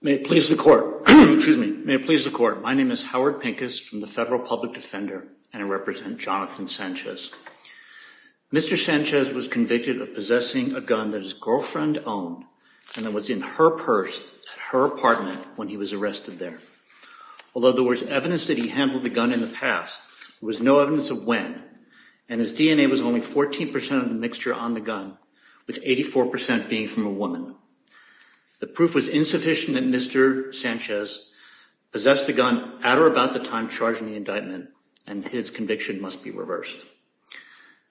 May it please the court. My name is Howard Pincus from the Federal Public Defender and I represent Jonathan Sanchez. Mr. Sanchez was convicted of possessing a gun that his girlfriend owned and that was in her purse at her apartment when he was arrested there. Although there was evidence that he handled the gun in the past, there was no evidence of when and his DNA was only 14% of the mixture on the gun with 84% being from a woman. The proof was insufficient that Mr. Sanchez possessed a gun at or about the time charged in the indictment and his conviction must be reversed.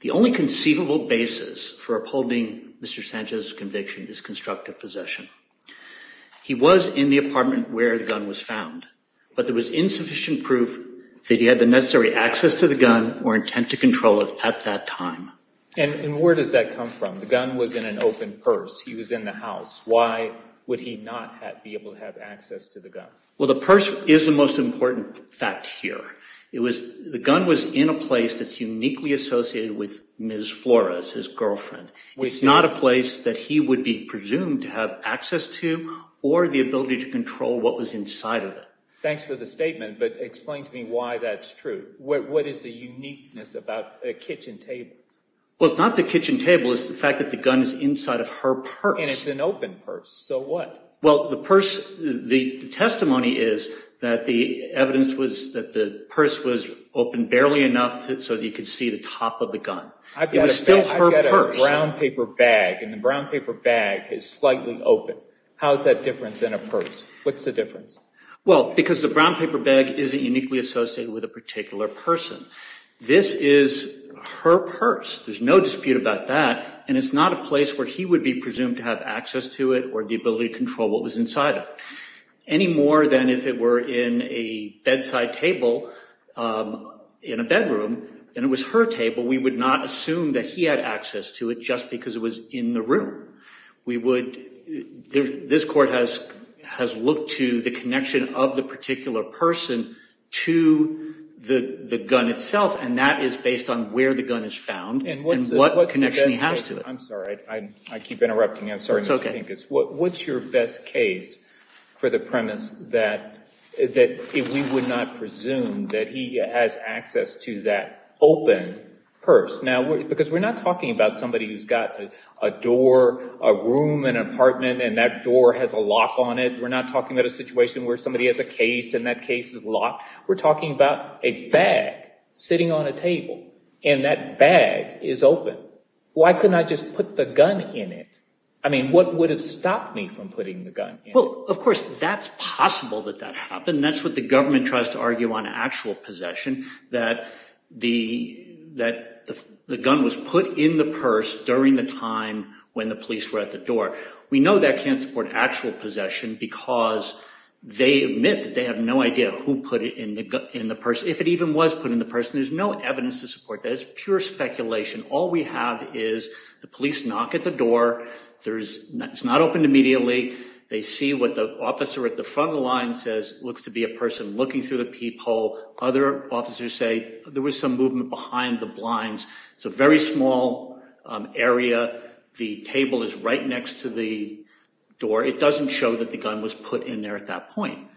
The only conceivable basis for upholding Mr. Sanchez's conviction is constructive possession. He was in the apartment where the gun was found but there was insufficient proof that he had the necessary access to the gun or intent to control it at that time. And where does that come from? The gun was in an open purse. He was in the house. Why would he not be able to have access to the gun? Well, the purse is the most important fact here. The gun was in a place that's uniquely associated with Ms. Flores, his girlfriend. It's not a place that he would be presumed to have access to or the ability to control what was inside of it. Thanks for the statement but explain to me why that's true. What is the uniqueness about a kitchen table? Well, it's not the kitchen table. It's the fact that the gun is inside of her purse. And it's an open purse. So what? Well, the purse, the testimony is that the evidence was that the purse was open barely enough so that you could see the top of the gun. It was still her purse. I've got a brown paper bag and the brown paper bag is slightly open. How is that different than a purse? What's the difference? Well, because the brown paper bag isn't uniquely associated with a particular person. This is her purse. There's no dispute about that. And it's not a place where he would be presumed to have access to it or the ability to control what was inside of it. Any more than if it were in a bedside table in a bedroom and it was her table, we would not assume that he had access to it just because it was in the room. This court has looked to the connection of the particular person to the gun itself and that is based on where the gun is found and what connection he has to it. I'm sorry. I keep interrupting. I'm sorry. What's your best case for the premise that we would not presume that he has access to that open purse? Now, because we're not talking about somebody who's got a door, a room, an apartment and that door has a lock on it. We're not talking about a situation where somebody has a case and that case is locked. We're talking about a bag sitting on a table and that bag is open. Why couldn't I just put the gun in it? I mean, what would have stopped me from putting the gun in it? If it even was put in the purse, there's no evidence to support that. It's pure speculation. All we have is the police knock at the door. It's not opened immediately. They see what the officer at the front of the line says looks to be a person looking through the peephole. Other officers say there was some movement behind the blinds. It's a very small area. The table is right next to the door. It doesn't show that the gun was put in there at that point.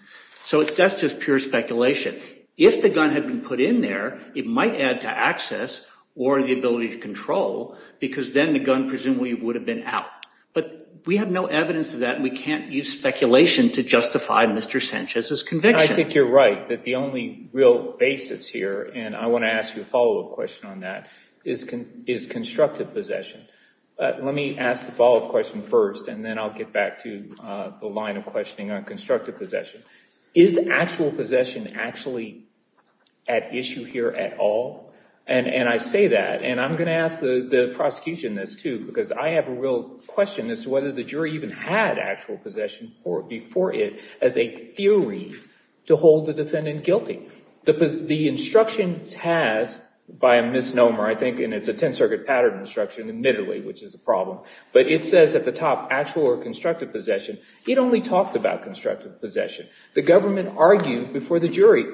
So that's just pure speculation. If the gun had been put in there, it might add to access or the ability to control because then the gun presumably would have been out. But we have no evidence of that. We can't use speculation to justify Mr. Sanchez's conviction. I think you're right that the only real basis here, and I want to ask you a follow-up question on that, is constructive possession. Let me ask the follow-up question first and then I'll get back to the line of questioning on constructive possession. Is actual possession actually at issue here at all? And I say that, and I'm going to ask the prosecution this too because I have a real question as to whether the jury even had actual possession before it as a theory to hold the defendant guilty. The instructions has, by a misnomer I think, and it's a Tenth Circuit pattern instruction admittedly, which is a problem, but it says at the top actual or constructive possession. It only talks about constructive possession. The government argued before the jury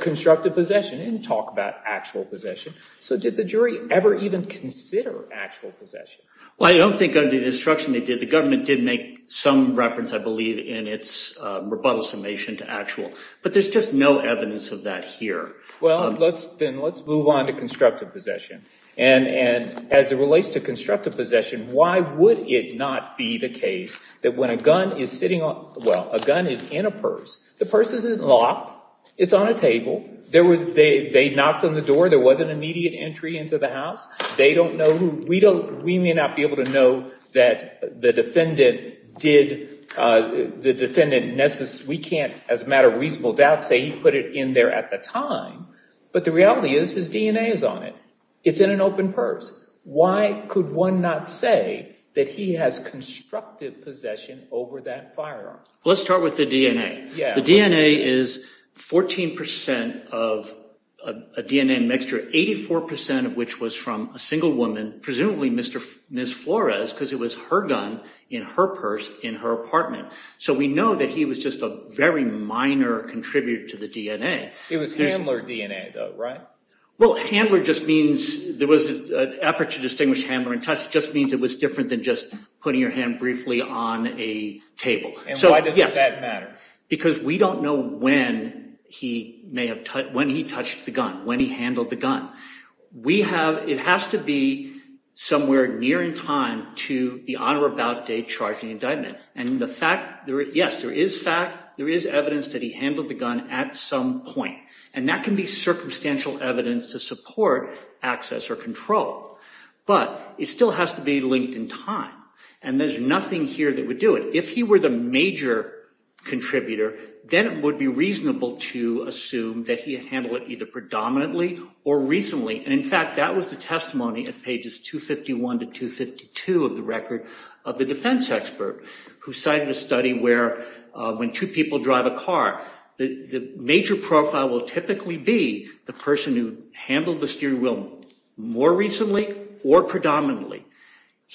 constructive possession. It didn't talk about actual possession. So did the jury ever even consider actual possession? Well, I don't think under the instruction they did. The government did make some reference, I believe, in its rebuttal summation to actual. But there's just no evidence of that here. Well, then let's move on to constructive possession. And as it relates to constructive possession, why would it not be the case that when a gun is sitting on – well, a gun is in a purse. The purse isn't locked. It's on a table. There was – they knocked on the door. There was an immediate entry into the house. They don't know who – we may not be able to know that the defendant did – the defendant – we can't as a matter of reasonable doubt say he put it in there at the time. But the reality is his DNA is on it. It's in an open purse. Why could one not say that he has constructive possession over that firearm? Well, let's start with the DNA. The DNA is 14 percent of a DNA mixture, 84 percent of which was from a single woman, presumably Ms. Flores, because it was her gun in her purse in her apartment. So we know that he was just a very minor contributor to the DNA. It was handler DNA, though, right? Well, handler just means – there was an effort to distinguish handler and touch. It just means it was different than just putting your hand briefly on a table. And why does that matter? Because we don't know when he may have – when he touched the gun, when he handled the gun. We have – it has to be somewhere near in time to the on or about date charged in the indictment. And the fact – yes, there is fact – there is evidence that he handled the gun at some point. And that can be circumstantial evidence to support access or control. But it still has to be linked in time. And there's nothing here that would do it. If he were the major contributor, then it would be reasonable to assume that he handled it either predominantly or recently. And, in fact, that was the testimony at pages 251 to 252 of the record of the defense expert who cited a study where when two people drive a car, the major profile will typically be the person who handled the steering wheel more recently or predominantly.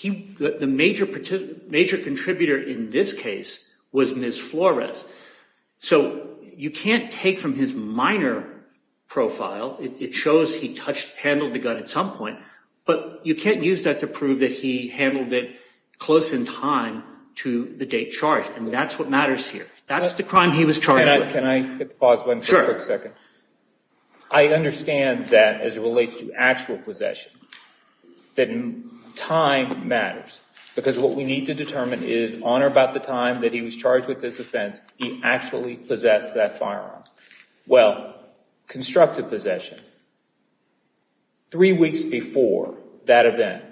The major contributor in this case was Ms. Flores. So you can't take from his minor profile. It shows he touched – handled the gun at some point. But you can't use that to prove that he handled it close in time to the date charged. And that's what matters here. That's the crime he was charged with. Sure. I understand that as it relates to actual possession, that time matters. Because what we need to determine is on or about the time that he was charged with this offense, he actually possessed that firearm. Well, constructive possession. Three weeks before that event,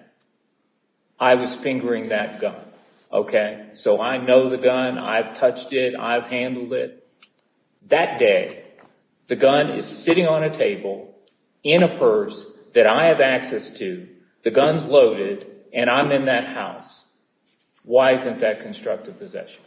I was fingering that gun, okay? So I know the gun. I've touched it. I've handled it. That day, the gun is sitting on a table in a purse that I have access to. The gun's loaded, and I'm in that house. Why isn't that constructive possession?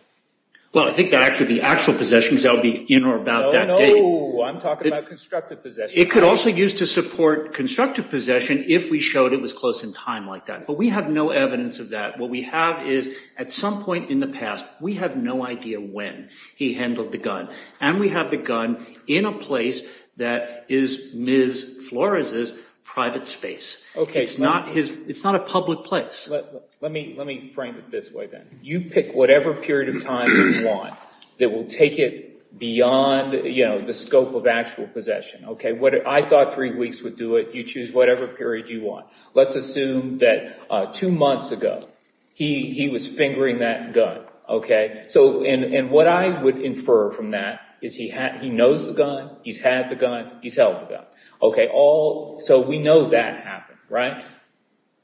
Well, I think that could be actual possession because that would be in or about that date. No, no. I'm talking about constructive possession. It could also be used to support constructive possession if we showed it was close in time like that. But we have no evidence of that. What we have is at some point in the past, we have no idea when he handled the gun. And we have the gun in a place that is Ms. Flores' private space. Okay. It's not a public place. Let me frame it this way then. You pick whatever period of time you want that will take it beyond the scope of actual possession, okay? I thought three weeks would do it. You choose whatever period you want. Let's assume that two months ago, he was fingering that gun, okay? And what I would infer from that is he knows the gun. He's had the gun. He's held the gun. Okay. So we know that happened, right?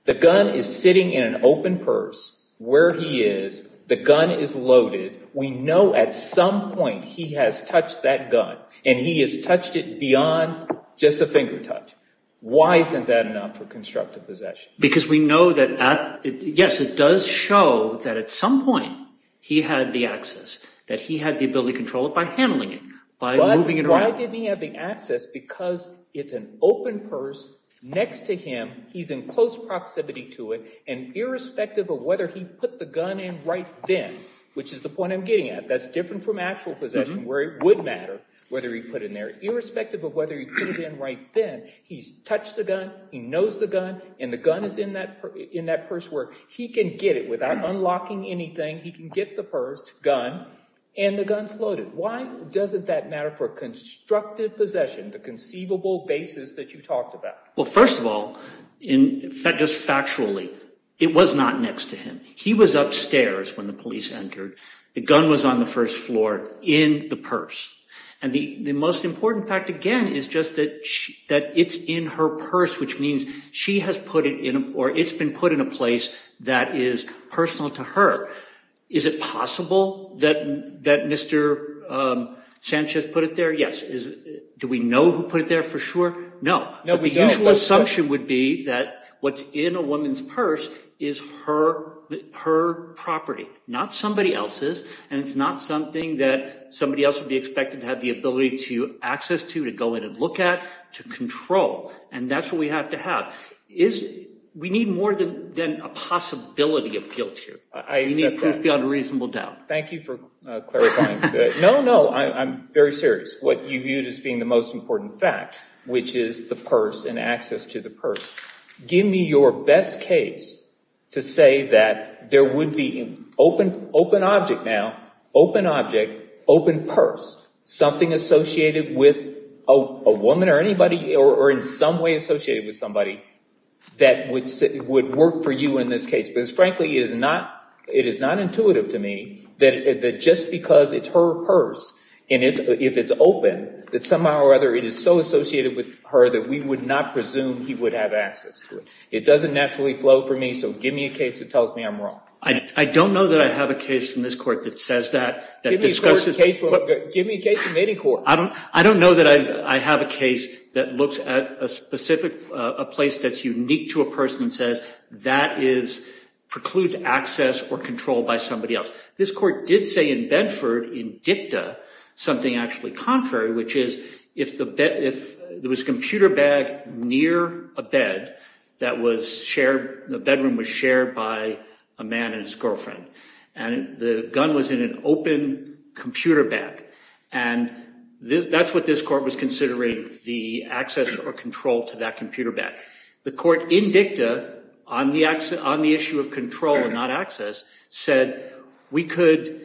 The gun is sitting in an open purse where he is. The gun is loaded. We know at some point he has touched that gun, and he has touched it beyond just a finger touch. Why isn't that enough for constructive possession? Because we know that, yes, it does show that at some point he had the access, that he had the ability to control it by handling it, by moving it around. But why didn't he have the access? Because it's an open purse next to him. He's in close proximity to it. And irrespective of whether he put the gun in right then, which is the point I'm getting at, that's different from actual possession where it would matter whether he put it in there. Irrespective of whether he put it in right then, he's touched the gun, he knows the gun, and the gun is in that purse where he can get it without unlocking anything. He can get the purse, gun, and the gun's loaded. Why doesn't that matter for constructive possession, the conceivable basis that you talked about? Well, first of all, just factually, it was not next to him. He was upstairs when the police entered. The gun was on the first floor in the purse. And the most important fact, again, is just that it's in her purse, which means she has put it in or it's been put in a place that is personal to her. Is it possible that Mr. Sanchez put it there? Yes. Do we know who put it there for sure? No. But the usual assumption would be that what's in a woman's purse is her property, not somebody else's. And it's not something that somebody else would be expected to have the ability to access to, to go in and look at, to control. And that's what we have to have. We need more than a possibility of guilt here. We need proof beyond a reasonable doubt. Thank you for clarifying. No, no, I'm very serious. What you viewed as being the most important fact, which is the purse and access to the purse. Give me your best case to say that there would be open object now, open object, open purse, something associated with a woman or anybody or in some way associated with somebody that would work for you in this case. Because frankly, it is not intuitive to me that just because it's her purse and if it's open, that somehow or other it is so associated with her that we would not presume he would have access to it. It doesn't naturally flow for me. So give me a case that tells me I'm wrong. I don't know that I have a case from this court that says that. Give me a case from any court. I don't know that I have a case that looks at a specific place that's unique to a person and says that precludes access or control by somebody else. This court did say in Bedford, in dicta, something actually contrary, which is if there was a computer bag near a bed, the bedroom was shared by a man and his girlfriend. And the gun was in an open computer bag. And that's what this court was considering, the access or control to that computer bag. The court in dicta on the issue of control and not access said we could,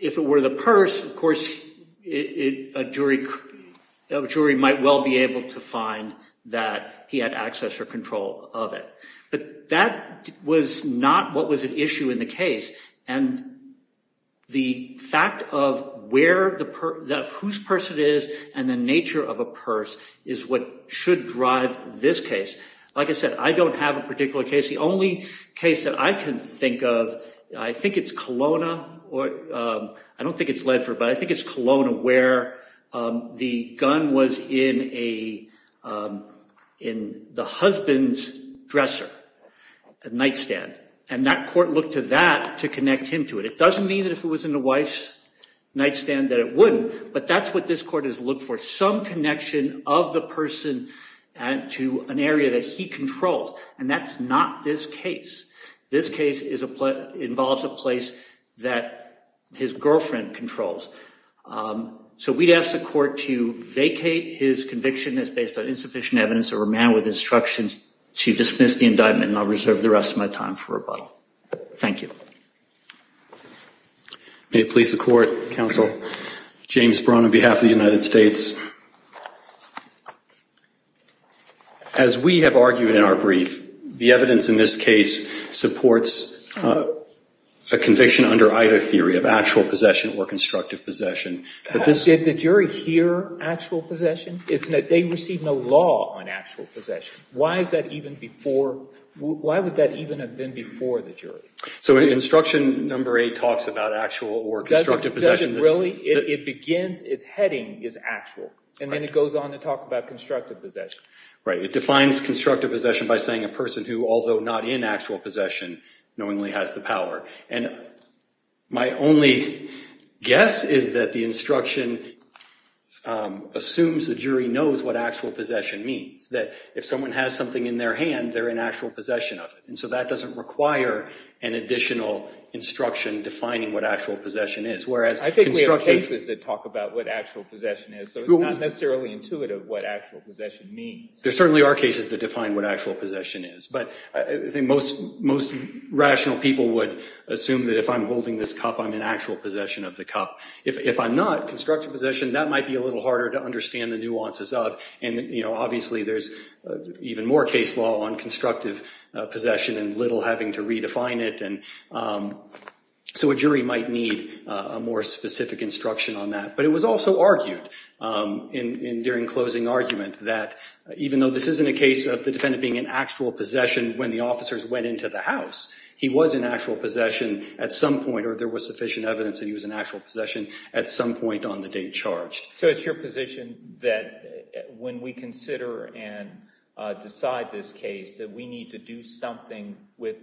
if it were the purse, of course, a jury might well be able to find that he had access or control of it. But that was not what was at issue in the case. And the fact of whose purse it is and the nature of a purse is what should drive this case. Like I said, I don't have a particular case. The only case that I can think of, I think it's Kelowna. I don't think it's Ledford, but I think it's Kelowna where the gun was in the husband's dresser, a nightstand. And that court looked to that to connect him to it. It doesn't mean that if it was in the wife's nightstand that it wouldn't. But that's what this court has looked for, some connection of the person to an area that he controls. And that's not this case. This case involves a place that his girlfriend controls. So we'd ask the court to vacate his conviction as based on insufficient evidence of a man with instructions to dismiss the indictment. And I'll reserve the rest of my time for rebuttal. Thank you. May it please the court. Counsel. James Braun on behalf of the United States. As we have argued in our brief, the evidence in this case supports a conviction under either theory of actual possession or constructive possession. Did the jury hear actual possession? They received no law on actual possession. Why is that even before, why would that even have been before the jury? So instruction number eight talks about actual or constructive possession. It begins, its heading is actual. And then it goes on to talk about constructive possession. Right. It defines constructive possession by saying a person who, although not in actual possession, knowingly has the power. And my only guess is that the instruction assumes the jury knows what actual possession means. That if someone has something in their hand, they're in actual possession of it. And so that doesn't require an additional instruction defining what actual possession is. I think we have cases that talk about what actual possession is. So it's not necessarily intuitive what actual possession means. There certainly are cases that define what actual possession is. But I think most rational people would assume that if I'm holding this cup, I'm in actual possession of the cup. If I'm not, constructive possession, that might be a little harder to understand the nuances of. And, you know, obviously there's even more case law on constructive possession and little having to redefine it. So a jury might need a more specific instruction on that. But it was also argued during closing argument that even though this isn't a case of the defendant being in actual possession when the officers went into the house, he was in actual possession at some point or there was sufficient evidence that he was in actual possession at some point on the day charged. So it's your position that when we consider and decide this case that we need to do something with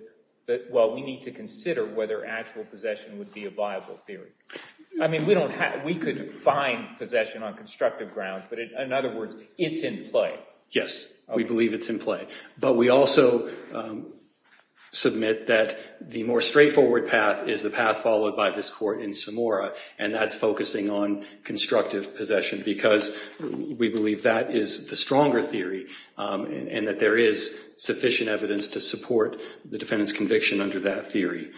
that? Well, we need to consider whether actual possession would be a viable theory. I mean, we don't have we could find possession on constructive grounds, but in other words, it's in play. Yes, we believe it's in play. But we also submit that the more straightforward path is the path followed by this court in Samora, and that's focusing on constructive possession because we believe that is the stronger theory and that there is sufficient evidence to support the defendant's conviction under that theory.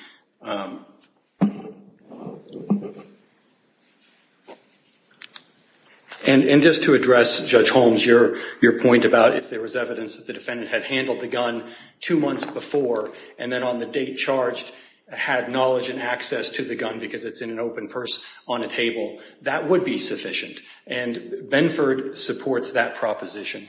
And just to address Judge Holmes, your point about if there was evidence that the defendant had handled the gun two months before and then on the date charged had knowledge and access to the gun because it's in an open purse on a table, that would be sufficient. And Benford supports that proposition.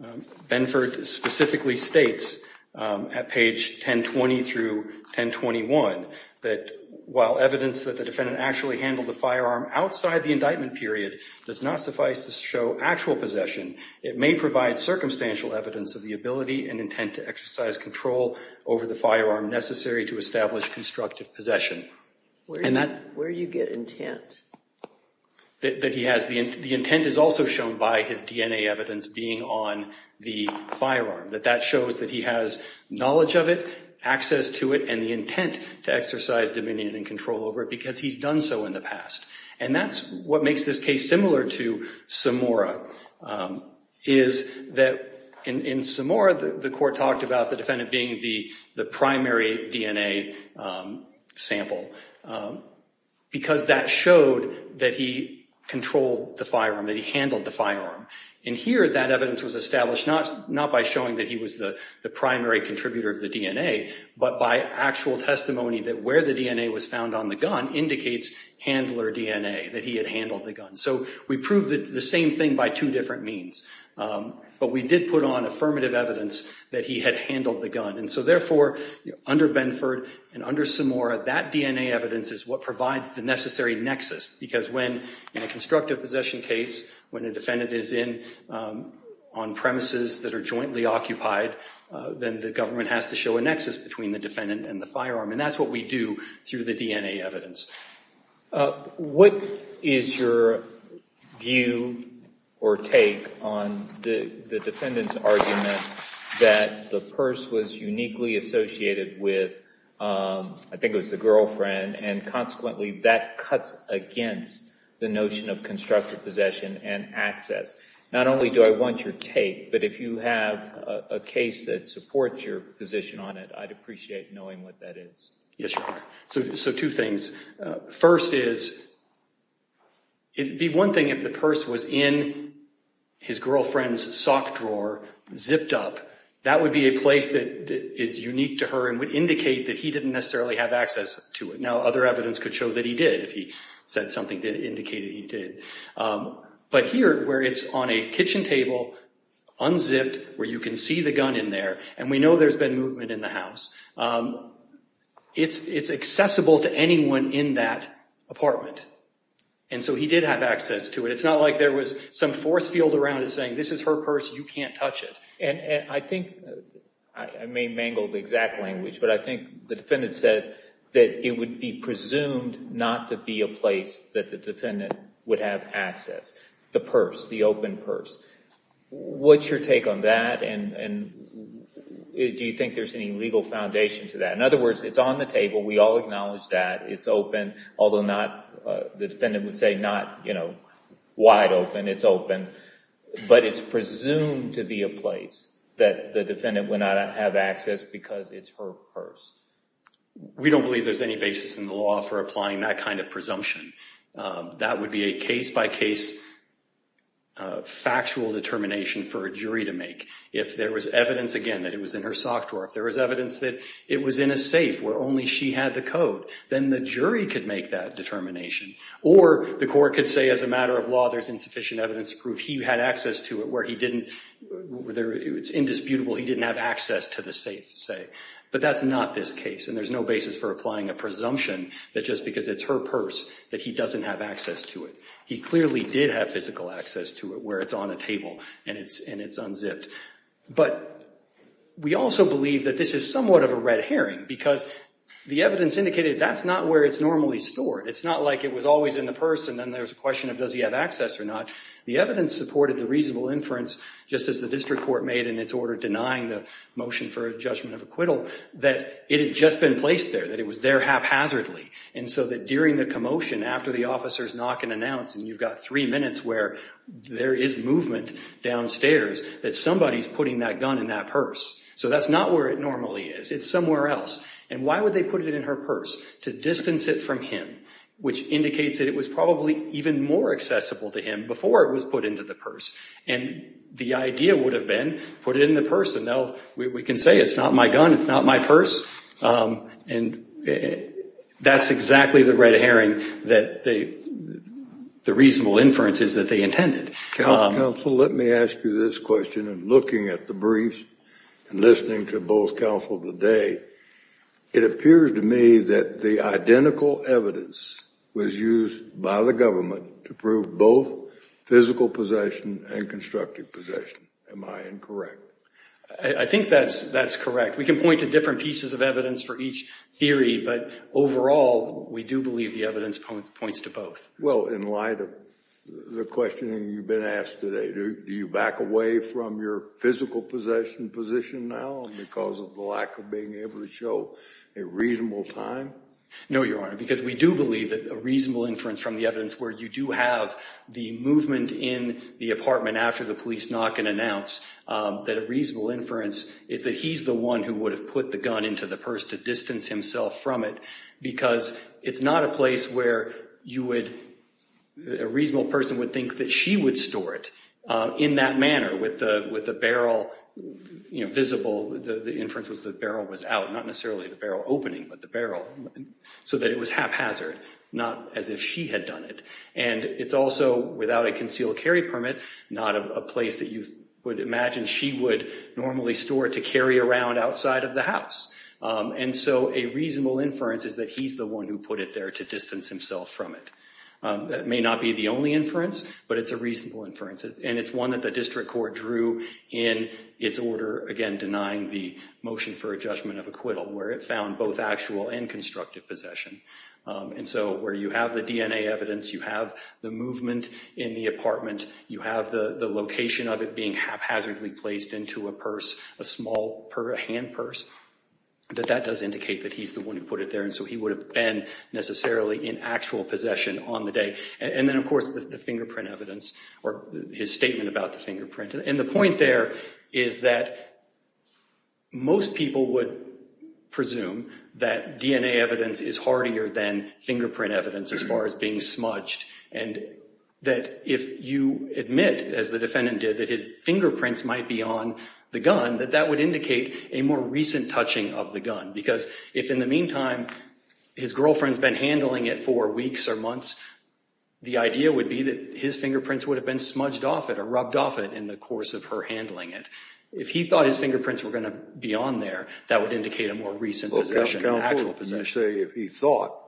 Benford specifically states at page 1020 through 1021 that while evidence that the defendant actually handled the firearm outside the indictment period does not suffice to show actual possession, it may provide circumstantial evidence of the ability and intent to exercise control over the firearm necessary to establish constructive possession. Where do you get intent? The intent is also shown by his DNA evidence being on the firearm, that that shows that he has knowledge of it, access to it, and the intent to exercise dominion and control over it because he's done so in the past. And that's what makes this case similar to Samora is that in Samora, the court talked about the defendant being the primary DNA sample because that showed that he controlled the firearm, that he handled the firearm. And here, that evidence was established not by showing that he was the primary contributor of the DNA, but by actual testimony that where the DNA was found on the gun indicates handler DNA, that he had handled the gun. So we proved the same thing by two different means. But we did put on affirmative evidence that he had handled the gun. And so therefore, under Benford and under Samora, that DNA evidence is what provides the necessary nexus because when in a constructive possession case, when a defendant is in on premises that are jointly occupied, then the government has to show a nexus between the defendant and the firearm. And that's what we do through the DNA evidence. What is your view or take on the defendant's argument that the purse was uniquely associated with, I think it was the girlfriend, and consequently that cuts against the notion of constructive possession and access? Not only do I want your take, but if you have a case that supports your position on it, I'd appreciate knowing what that is. Yes, Your Honor. So two things. First is, it would be one thing if the purse was in his girlfriend's sock drawer, zipped up. That would be a place that is unique to her and would indicate that he didn't necessarily have access to it. Now, other evidence could show that he did, if he said something that indicated he did. But here, where it's on a kitchen table, unzipped, where you can see the gun in there, and we know there's been movement in the house, it's accessible to anyone in that apartment. And so he did have access to it. It's not like there was some force field around it saying, this is her purse, you can't touch it. And I think, I may mangle the exact language, but I think the defendant said that it would be presumed not to be a place that the defendant would have access. The purse, the open purse. What's your take on that, and do you think there's any legal foundation to that? In other words, it's on the table, we all acknowledge that. It's open, although the defendant would say not wide open, it's open. But it's presumed to be a place that the defendant would not have access because it's her purse. We don't believe there's any basis in the law for applying that kind of presumption. That would be a case-by-case factual determination for a jury to make. If there was evidence, again, that it was in her sock drawer, if there was evidence that it was in a safe where only she had the code, then the jury could make that determination. Or the court could say, as a matter of law, there's insufficient evidence to prove he had access to it, where it's indisputable he didn't have access to the safe, say. But that's not this case, and there's no basis for applying a presumption that just because it's her purse that he doesn't have access to it. He clearly did have physical access to it where it's on a table and it's unzipped. But we also believe that this is somewhat of a red herring because the evidence indicated that's not where it's normally stored. It's not like it was always in the purse and then there's a question of does he have access or not. The evidence supported the reasonable inference, just as the district court made in its order denying the motion for a judgment of acquittal, that it had just been placed there, that it was there haphazardly. And so that during the commotion, after the officers knock and announce, and you've got three minutes where there is movement downstairs, that somebody's putting that gun in that purse. So that's not where it normally is. It's somewhere else. And why would they put it in her purse? To distance it from him, which indicates that it was probably even more accessible to him before it was put into the purse. And the idea would have been put it in the purse and now we can say it's not my gun, it's not my purse. And that's exactly the red herring that the reasonable inference is that they intended. Counsel, let me ask you this question. Looking at the briefs and listening to both counsel today, it appears to me that the identical evidence was used by the government to prove both physical possession and constructive possession. Am I incorrect? I think that's correct. We can point to different pieces of evidence for each theory, but overall we do believe the evidence points to both. Well, in light of the questioning you've been asked today, do you back away from your physical possession position now because of the lack of being able to show a reasonable time? No, Your Honor, because we do believe that a reasonable inference from the evidence where you do have the movement in the apartment after the police knock and announce, that a reasonable inference is that he's the one who would have put the gun into the purse to distance himself from it because it's not a place where you would, a reasonable person would think that she would store it in that manner with the barrel visible. The inference was the barrel was out, not necessarily the barrel opening, but the barrel so that it was haphazard, not as if she had done it. And it's also without a concealed carry permit, not a place that you would imagine she would normally store it to carry around outside of the house. And so a reasonable inference is that he's the one who put it there to distance himself from it. That may not be the only inference, but it's a reasonable inference, and it's one that the district court drew in its order, again, denying the motion for a judgment of acquittal where it found both actual and constructive possession. And so where you have the DNA evidence, you have the movement in the apartment, you have the location of it being haphazardly placed into a purse, a small hand purse, that that does indicate that he's the one who put it there. And so he would have been necessarily in actual possession on the day. And then, of course, the fingerprint evidence or his statement about the fingerprint. And the point there is that most people would presume that DNA evidence is hardier than fingerprint evidence as far as being smudged. And that if you admit, as the defendant did, that his fingerprints might be on the gun, that that would indicate a more recent touching of the gun. Because if in the meantime his girlfriend's been handling it for weeks or months, the idea would be that his fingerprints would have been smudged off it or rubbed off it in the course of her handling it. If he thought his fingerprints were going to be on there, that would indicate a more recent possession, an actual possession. Well, Counsel, what would you say if he thought?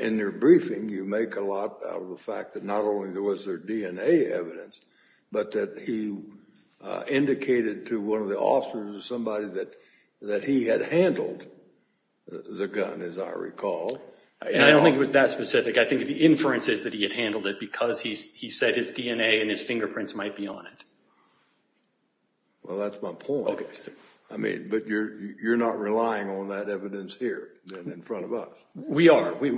In their briefing, you make a lot out of the fact that not only was there DNA evidence, but that he indicated to one of the officers or somebody that he had handled the gun, as I recall. I don't think it was that specific. I think the inference is that he had handled it because he said his DNA and his fingerprints might be on it. Well, that's my point. Okay, sir. I mean, but you're not relying on that evidence here and in front of us. We are. We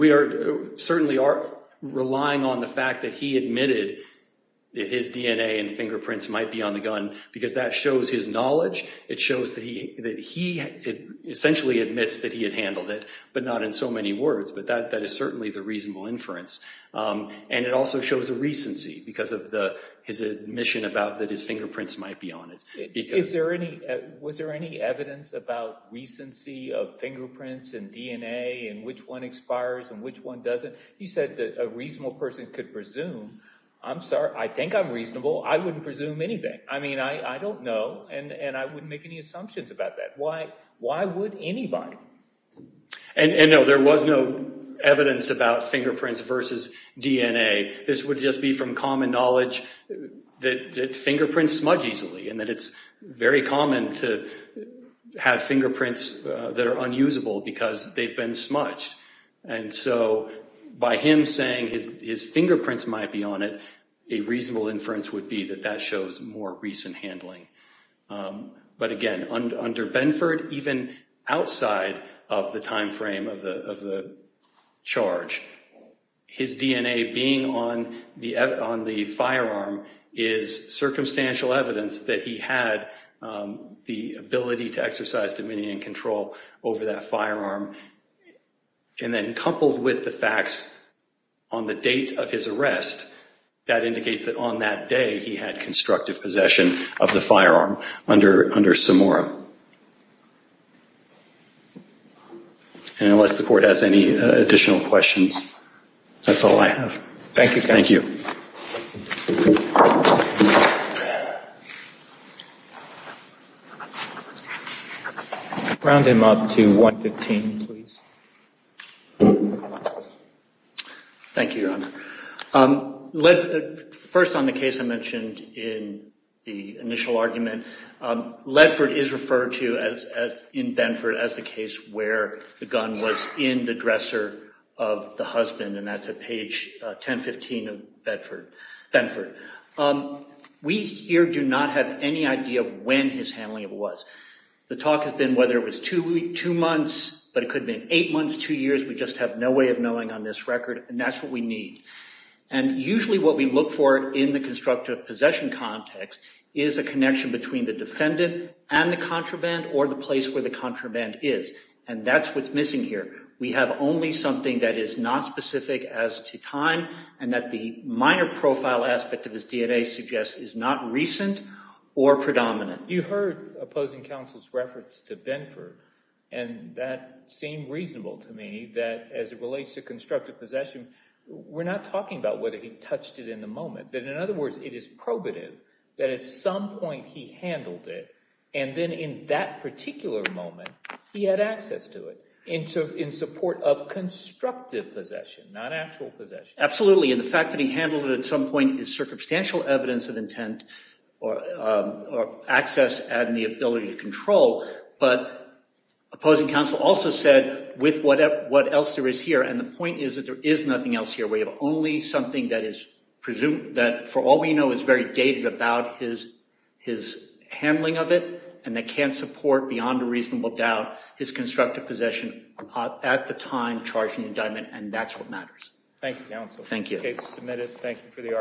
certainly are relying on the fact that he admitted that his DNA and fingerprints might be on the gun because that shows his knowledge. It shows that he essentially admits that he had handled it, but not in so many words. But that is certainly the reasonable inference. And it also shows a recency because of his admission about that his fingerprints might be on it. Was there any evidence about recency of fingerprints and DNA and which one expires and which one doesn't? You said that a reasonable person could presume. I'm sorry. I think I'm reasonable. I wouldn't presume anything. I mean, I don't know, and I wouldn't make any assumptions about that. Why would anybody? And, no, there was no evidence about fingerprints versus DNA. This would just be from common knowledge that fingerprints smudge easily and that it's very common to have fingerprints that are unusable because they've been smudged. And so by him saying his fingerprints might be on it, a reasonable inference would be that that shows more recent handling. But, again, under Benford, even outside of the time frame of the charge, his DNA being on the firearm is circumstantial evidence that he had the ability to exercise dominion and control over that firearm. And then coupled with the facts on the date of his arrest, that indicates that on that day he had constructive possession of the firearm under Samora. And unless the court has any additional questions, that's all I have. Thank you. Thank you. Thank you. Round him up to 115, please. First, on the case I mentioned in the initial argument, Ledford is referred to in Benford as the case where the gun was in the dresser of the husband, and that's at page 1015 of Benford. We here do not have any idea when his handling of it was. The talk has been whether it was two months, but it could have been eight months, two years. We just have no way of knowing on this record, and that's what we need. And usually what we look for in the constructive possession context is a connection between the defendant and the contraband or the place where the contraband is. And that's what's missing here. We have only something that is not specific as to time and that the minor profile aspect of his DNA suggests is not recent or predominant. You heard opposing counsel's reference to Benford, and that seemed reasonable to me that as it relates to constructive possession, we're not talking about whether he touched it in the moment. But in other words, it is probative that at some point he handled it, and then in that particular moment he had access to it in support of constructive possession, not actual possession. Absolutely, and the fact that he handled it at some point is circumstantial evidence of intent or access and the ability to control. But opposing counsel also said with what else there is here, and the point is that there is nothing else here. We have only something that is presumed that for all we know is very dated about his handling of it, and they can't support beyond a reasonable doubt his constructive possession at the time charged in the indictment, and that's what matters. Thank you. Thank you. Thank you for the argument.